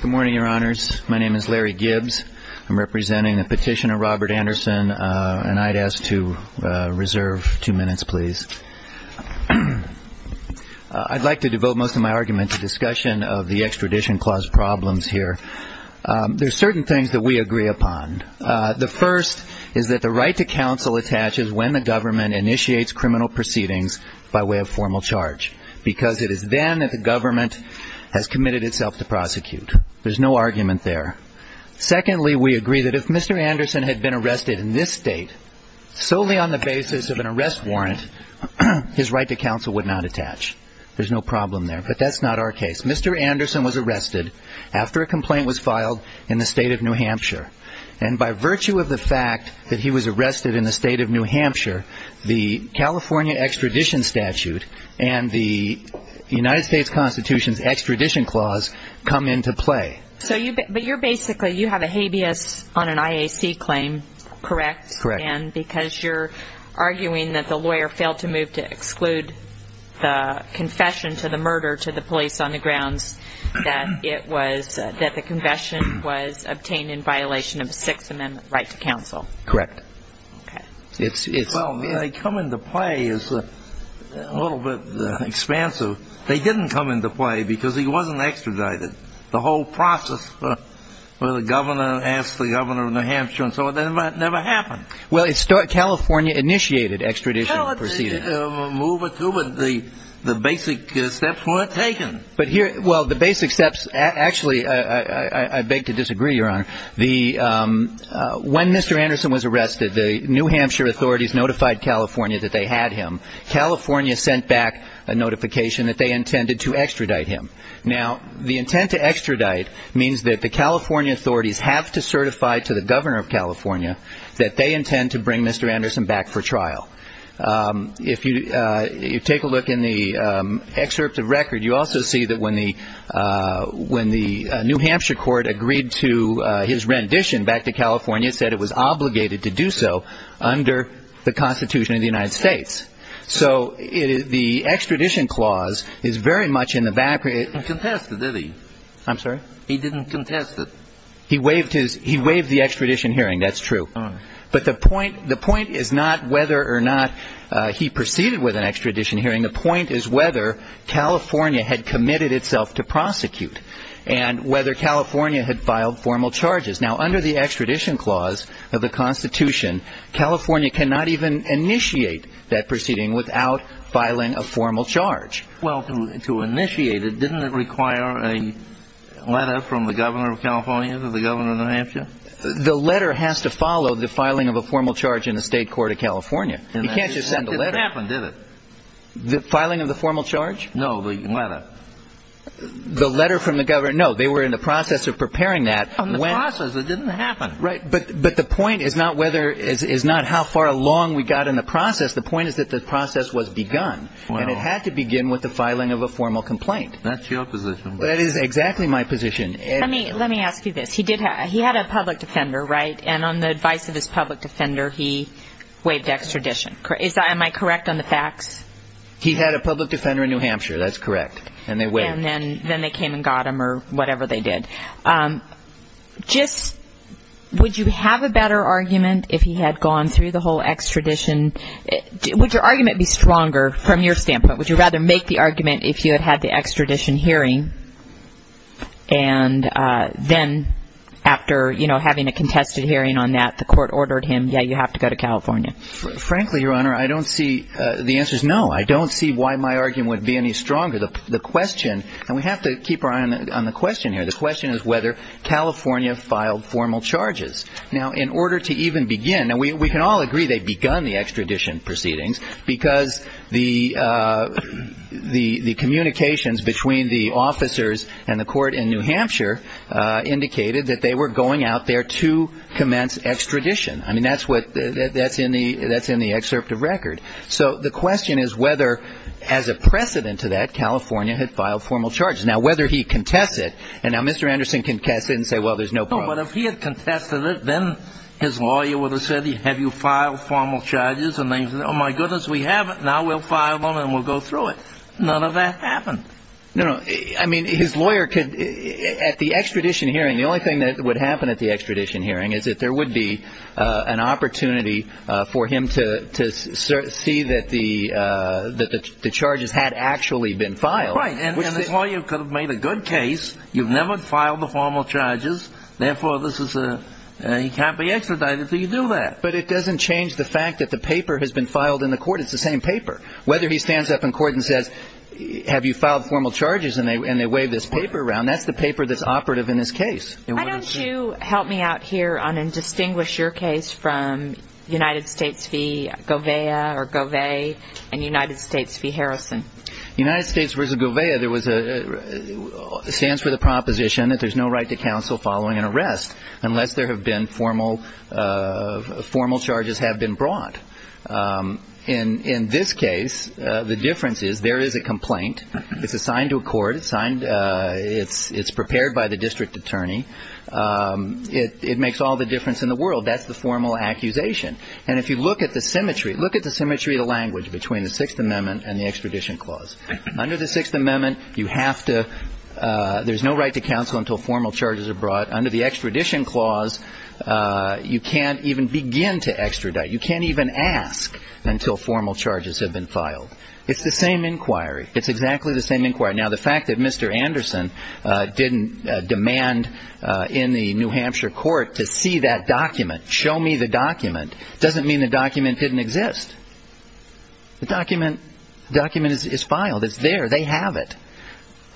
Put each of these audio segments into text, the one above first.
Good morning, your honors. My name is Larry Gibbs. I'm representing the petitioner Robert Anderson, and I'd ask to reserve two minutes, please. I'd like to devote most of my argument to discussion of the extradition clause problems here. There are certain things that we agree upon. The first is that the right to counsel attaches when the government initiates criminal proceedings by way of formal charge, because it is then that the government has committed itself to prosecute. There's no argument there. Secondly, we agree that if Mr. Anderson had been arrested in this state solely on the basis of an arrest warrant, his right to counsel would not attach. There's no problem there, but that's not our case. Mr. Anderson was arrested after a complaint was filed in the state of New Hampshire, and by virtue of the fact that he was arrested in the state of New Hampshire, the California extradition statute and the United States Constitution's extradition clause come into play. But you're basically, you have a habeas on an IAC claim, correct? Correct. And because you're arguing that the lawyer failed to move to exclude the confession to the murder to the police on the grounds that it was, that the confession was obtained in violation of the Sixth Amendment right to counsel. Correct. Okay. Well, they come into play as a little bit expansive. They didn't come into play because he wasn't extradited. The whole process where the governor asked the governor of New Hampshire and so on, that never happened. Well, California initiated extradition proceedings. Well, they moved it through, but the basic steps weren't taken. Well, the basic steps, actually, I beg to disagree, Your Honor. When Mr. Anderson was arrested, the New Hampshire authorities notified California that they had him. California sent back a notification that they intended to extradite him. Now, the intent to extradite means that the California authorities have to certify to the governor of California that they intend to bring Mr. Anderson back for trial. If you take a look in the excerpt of record, you also see that when the New Hampshire court agreed to his rendition back to California, it said it was obligated to do so under the Constitution of the United States. So the extradition clause is very much in the background. He didn't contest it, did he? I'm sorry? He didn't contest it. He waived the extradition hearing. That's true. All right. But the point is not whether or not he proceeded with an extradition hearing. The point is whether California had committed itself to prosecute and whether California had filed formal charges. Now, under the extradition clause of the Constitution, California cannot even initiate that proceeding without filing a formal charge. Well, to initiate it, didn't it require a letter from the governor of California to the governor of New Hampshire? The letter has to follow the filing of a formal charge in the state court of California. You can't just send a letter. And that didn't happen, did it? The filing of the formal charge? No, the letter. The letter from the governor? No, they were in the process of preparing that. In the process, it didn't happen. Right. But the point is not how far along we got in the process. The point is that the process was begun and it had to begin with the filing of a formal complaint. That's your position. That is exactly my position. Let me ask you this. He had a public defender, right? And on the advice of his public defender, he waived extradition. Am I correct on the facts? He had a public defender in New Hampshire. That's correct. And they waived. And then they came and got him or whatever they did. Just would you have a better argument if he had gone through the whole extradition? Would your argument be stronger from your standpoint? Would you rather make the argument if you had had the extradition hearing and then after, you know, having a contested hearing on that, the court ordered him, yeah, you have to go to California? Frankly, Your Honor, I don't see the answers. No, I don't see why my argument would be any stronger. The question, and we have to keep our eye on the question here, the question is whether California filed formal charges. Now, in order to even begin, and we can all agree they begun the extradition proceedings because the communications between the officers and the court in New Hampshire indicated that they were going out there to commence extradition. I mean, that's in the excerpt of record. So the question is whether, as a precedent to that, California had filed formal charges. Now, whether he contests it, and now Mr. Anderson can contest it and say, well, there's no problem. No, but if he had contested it, then his lawyer would have said, have you filed formal charges? And they would have said, oh, my goodness, we haven't. Now we'll file them and we'll go through it. None of that happened. No, no. I mean, his lawyer could, at the extradition hearing, the only thing that would happen at the extradition hearing is that there would be an opportunity for him to see that the charges had actually been filed. Right. And his lawyer could have made a good case. You've never filed the formal charges. Therefore, he can't be extradited until you do that. But it doesn't change the fact that the paper has been filed in the court. It's the same paper. Whether he stands up in court and says, have you filed formal charges? And they wave this paper around, that's the paper that's operative in this case. Why don't you help me out here and distinguish your case from United States v. Govea or Govea and United States v. Harrison? United States v. Govea stands for the proposition that there's no right to counsel following an arrest unless formal charges have been brought. In this case, the difference is there is a complaint. It's assigned to a court. It's prepared by the district attorney. It makes all the difference in the world. That's the formal accusation. And if you look at the symmetry, look at the symmetry of the language between the Sixth Amendment and the extradition clause. Under the Sixth Amendment, you have to ‑‑ there's no right to counsel until formal charges are brought. Under the extradition clause, you can't even begin to extradite. You can't even ask until formal charges have been filed. It's the same inquiry. It's exactly the same inquiry. Now, the fact that Mr. Anderson didn't demand in the New Hampshire court to see that document, show me the document, doesn't mean the document didn't exist. The document is filed. It's there. They have it.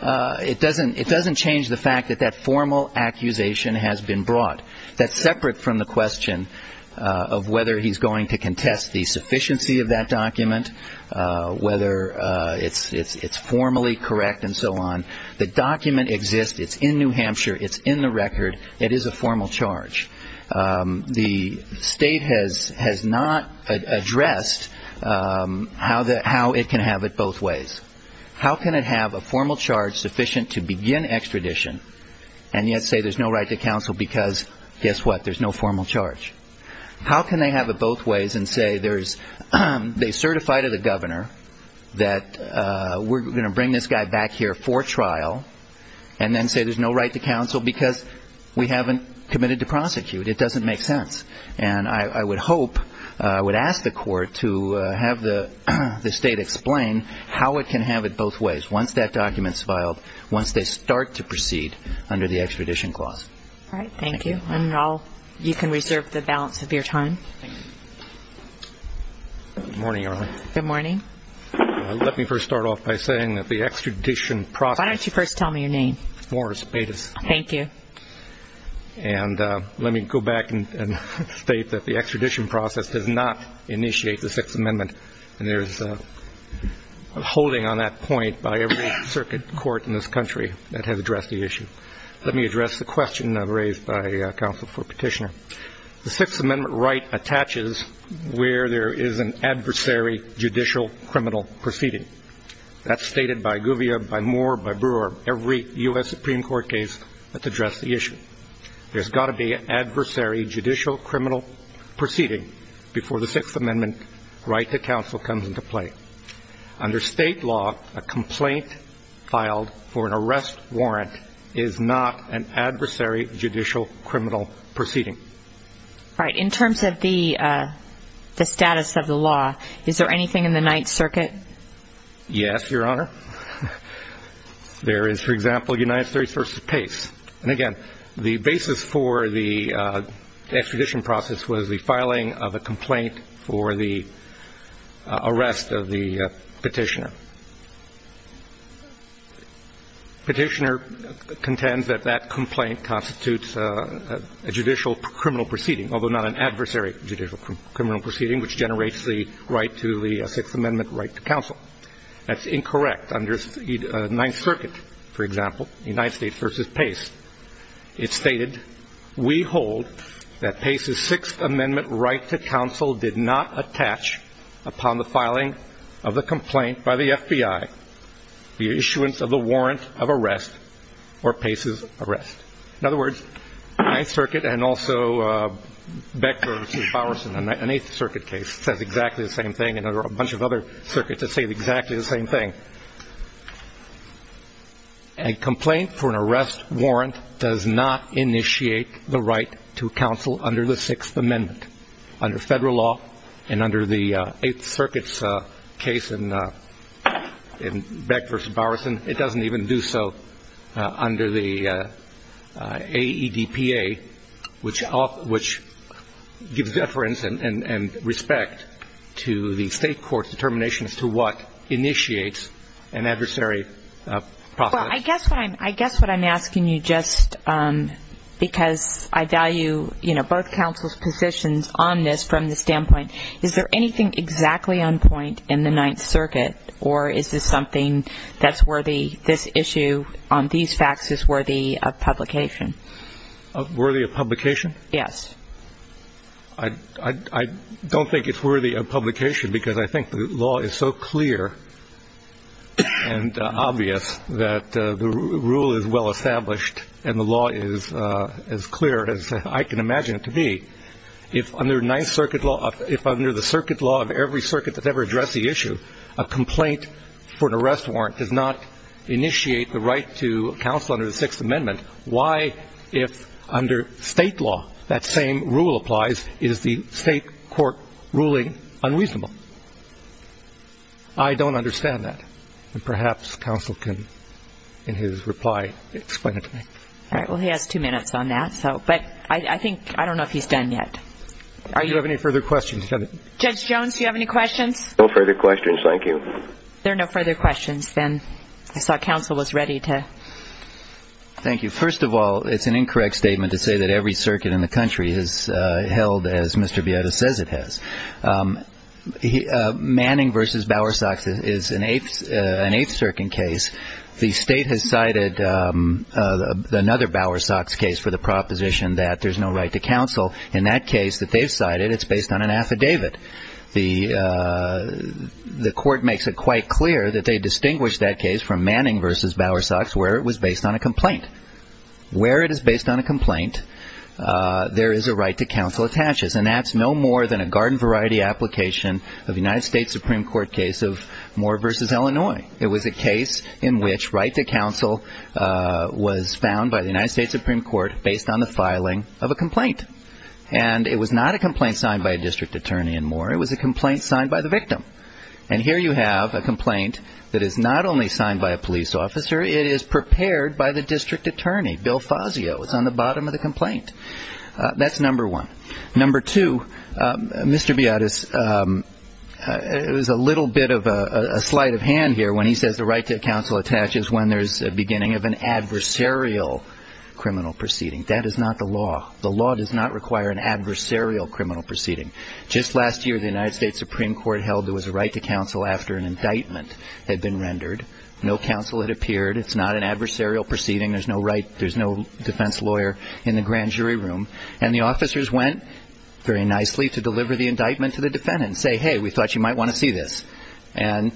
It doesn't change the fact that that formal accusation has been brought. That's separate from the question of whether he's going to contest the sufficiency of that document, whether it's formally correct and so on. The document exists. It's in New Hampshire. It's in the record. It is a formal charge. The state has not addressed how it can have it both ways. How can it have a formal charge sufficient to begin extradition and yet say there's no right to counsel because, guess what, there's no formal charge? How can they have it both ways and say there's they certify to the governor that we're going to bring this guy back here for trial and then say there's no right to counsel because we haven't committed to prosecute? It doesn't make sense. And I would hope, I would ask the court to have the state explain how it can have it both ways once that document's filed, once they start to proceed under the extradition clause. All right. Thank you. And you can reserve the balance of your time. Good morning, Arlene. Good morning. Let me first start off by saying that the extradition process. Why don't you first tell me your name? Morris Bates. Thank you. And let me go back and state that the extradition process does not initiate the Sixth Amendment, and there is a holding on that point by every circuit court in this country that has addressed the issue. Let me address the question raised by counsel for petitioner. The Sixth Amendment right attaches where there is an adversary judicial criminal proceeding. That's stated by Gouvia, by Moore, by Brewer, every U.S. Supreme Court case that's addressed the issue. There's got to be an adversary judicial criminal proceeding before the Sixth Amendment right to counsel comes into play. Under state law, a complaint filed for an arrest warrant is not an adversary judicial criminal proceeding. All right. In terms of the status of the law, is there anything in the Ninth Circuit? Yes, Your Honor. There is, for example, United States v. Pace. And, again, the basis for the extradition process was the filing of a complaint for the arrest of the petitioner. Petitioner contends that that complaint constitutes a judicial criminal proceeding, although not an adversary judicial criminal proceeding, which generates the right to the Sixth Amendment right to counsel. That's incorrect. Under Ninth Circuit, for example, United States v. Pace, it's stated, we hold that Pace's Sixth Amendment right to counsel did not attach upon the filing of the complaint by the FBI the issuance of the warrant of arrest or Pace's arrest. In other words, Ninth Circuit and also Becker v. Bowerson, an Eighth Circuit case, says exactly the same thing. And there are a bunch of other circuits that say exactly the same thing. A complaint for an arrest warrant does not initiate the right to counsel under the Sixth Amendment. Under federal law and under the Eighth Circuit's case in Becker v. Bowerson, it doesn't even do so under the AEDPA, which gives deference and respect to the state court's determination as to what initiates an adversary process. Well, I guess what I'm asking you, just because I value both counsels' positions on this from the standpoint, is there anything exactly on point in the Ninth Circuit, or is this something that's worthy, this issue on these facts is worthy of publication? Worthy of publication? Yes. I don't think it's worthy of publication because I think the law is so clear and obvious that the rule is well established and the law is as clear as I can imagine it to be. If under the circuit law of every circuit that's ever addressed the issue, a complaint for an arrest warrant does not initiate the right to counsel under the Sixth Amendment, why, if under state law that same rule applies, is the state court ruling unreasonable? I don't understand that. And perhaps counsel can, in his reply, explain it to me. All right. Well, he has two minutes on that. I don't know if he's done yet. Do you have any further questions? Judge Jones, do you have any questions? No further questions, thank you. There are no further questions. Then I saw counsel was ready to. Thank you. First of all, it's an incorrect statement to say that every circuit in the country has held as Mr. Bietta says it has. Manning v. Bowersox is an Eighth Circuit case. The state has cited another Bowersox case for the proposition that there's no right to counsel. In that case that they've cited, it's based on an affidavit. The court makes it quite clear that they distinguish that case from Manning v. Bowersox where it was based on a complaint. Where it is based on a complaint, there is a right to counsel attaches, and that's no more than a garden variety application of a United States Supreme Court case of Moore v. Illinois. It was a case in which right to counsel was found by the United States Supreme Court based on the filing of a complaint. And it was not a complaint signed by a district attorney in Moore. It was a complaint signed by the victim. And here you have a complaint that is not only signed by a police officer. It is prepared by the district attorney, Bill Fazio. It's on the bottom of the complaint. That's number one. Number two, Mr. Beatus, there's a little bit of a sleight of hand here when he says the right to counsel attaches when there's a beginning of an adversarial criminal proceeding. That is not the law. The law does not require an adversarial criminal proceeding. Just last year, the United States Supreme Court held there was a right to counsel after an indictment had been rendered. No counsel had appeared. It's not an adversarial proceeding. There's no defense lawyer in the grand jury room. And the officers went very nicely to deliver the indictment to the defendant and say, hey, we thought you might want to see this, and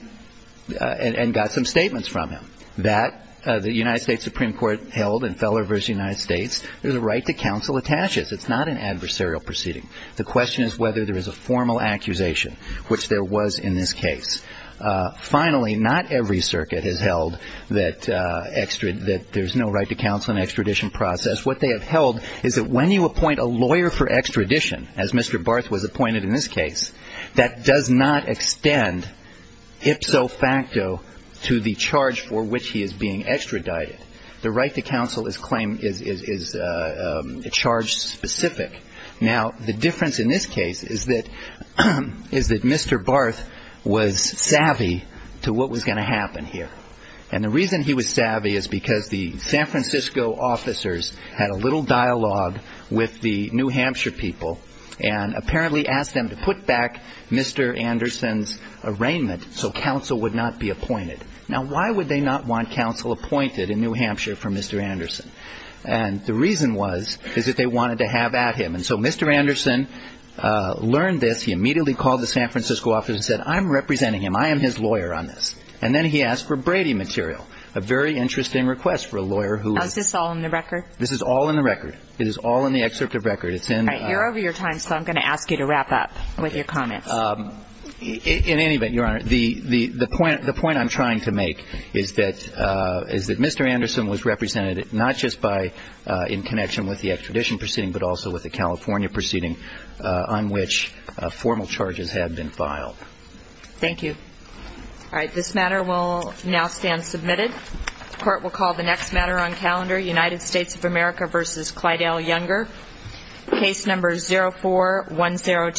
got some statements from him. That, the United States Supreme Court held in Feller v. United States, there's a right to counsel attaches. It's not an adversarial proceeding. The question is whether there is a formal accusation, which there was in this case. Finally, not every circuit has held that there's no right to counsel in an extradition process. What they have held is that when you appoint a lawyer for extradition, as Mr. Barth was appointed in this case, that does not extend ipso facto to the charge for which he is being extradited. The right to counsel is a charge specific. Now, the difference in this case is that Mr. Barth was savvy to what was going to happen here. And the reason he was savvy is because the San Francisco officers had a little dialogue with the New Hampshire people and apparently asked them to put back Mr. Anderson's arraignment so counsel would not be appointed. Now, why would they not want counsel appointed in New Hampshire for Mr. Anderson? And the reason was is that they wanted to have at him. And so Mr. Anderson learned this. He immediately called the San Francisco officers and said, I'm representing him. I am his lawyer on this. And then he asked for Brady material, a very interesting request for a lawyer who was. Is this all in the record? This is all in the record. It is all in the excerpt of record. It's in. All right. You're over your time, so I'm going to ask you to wrap up with your comments. In any event, Your Honor, the point I'm trying to make is that Mr. Anderson was represented not just by in connection with the extradition proceeding, but also with the California proceeding on which formal charges had been filed. Thank you. All right. This matter will now stand submitted. Court will call the next matter on calendar, United States of America v. Clydell Younger, case number 04102.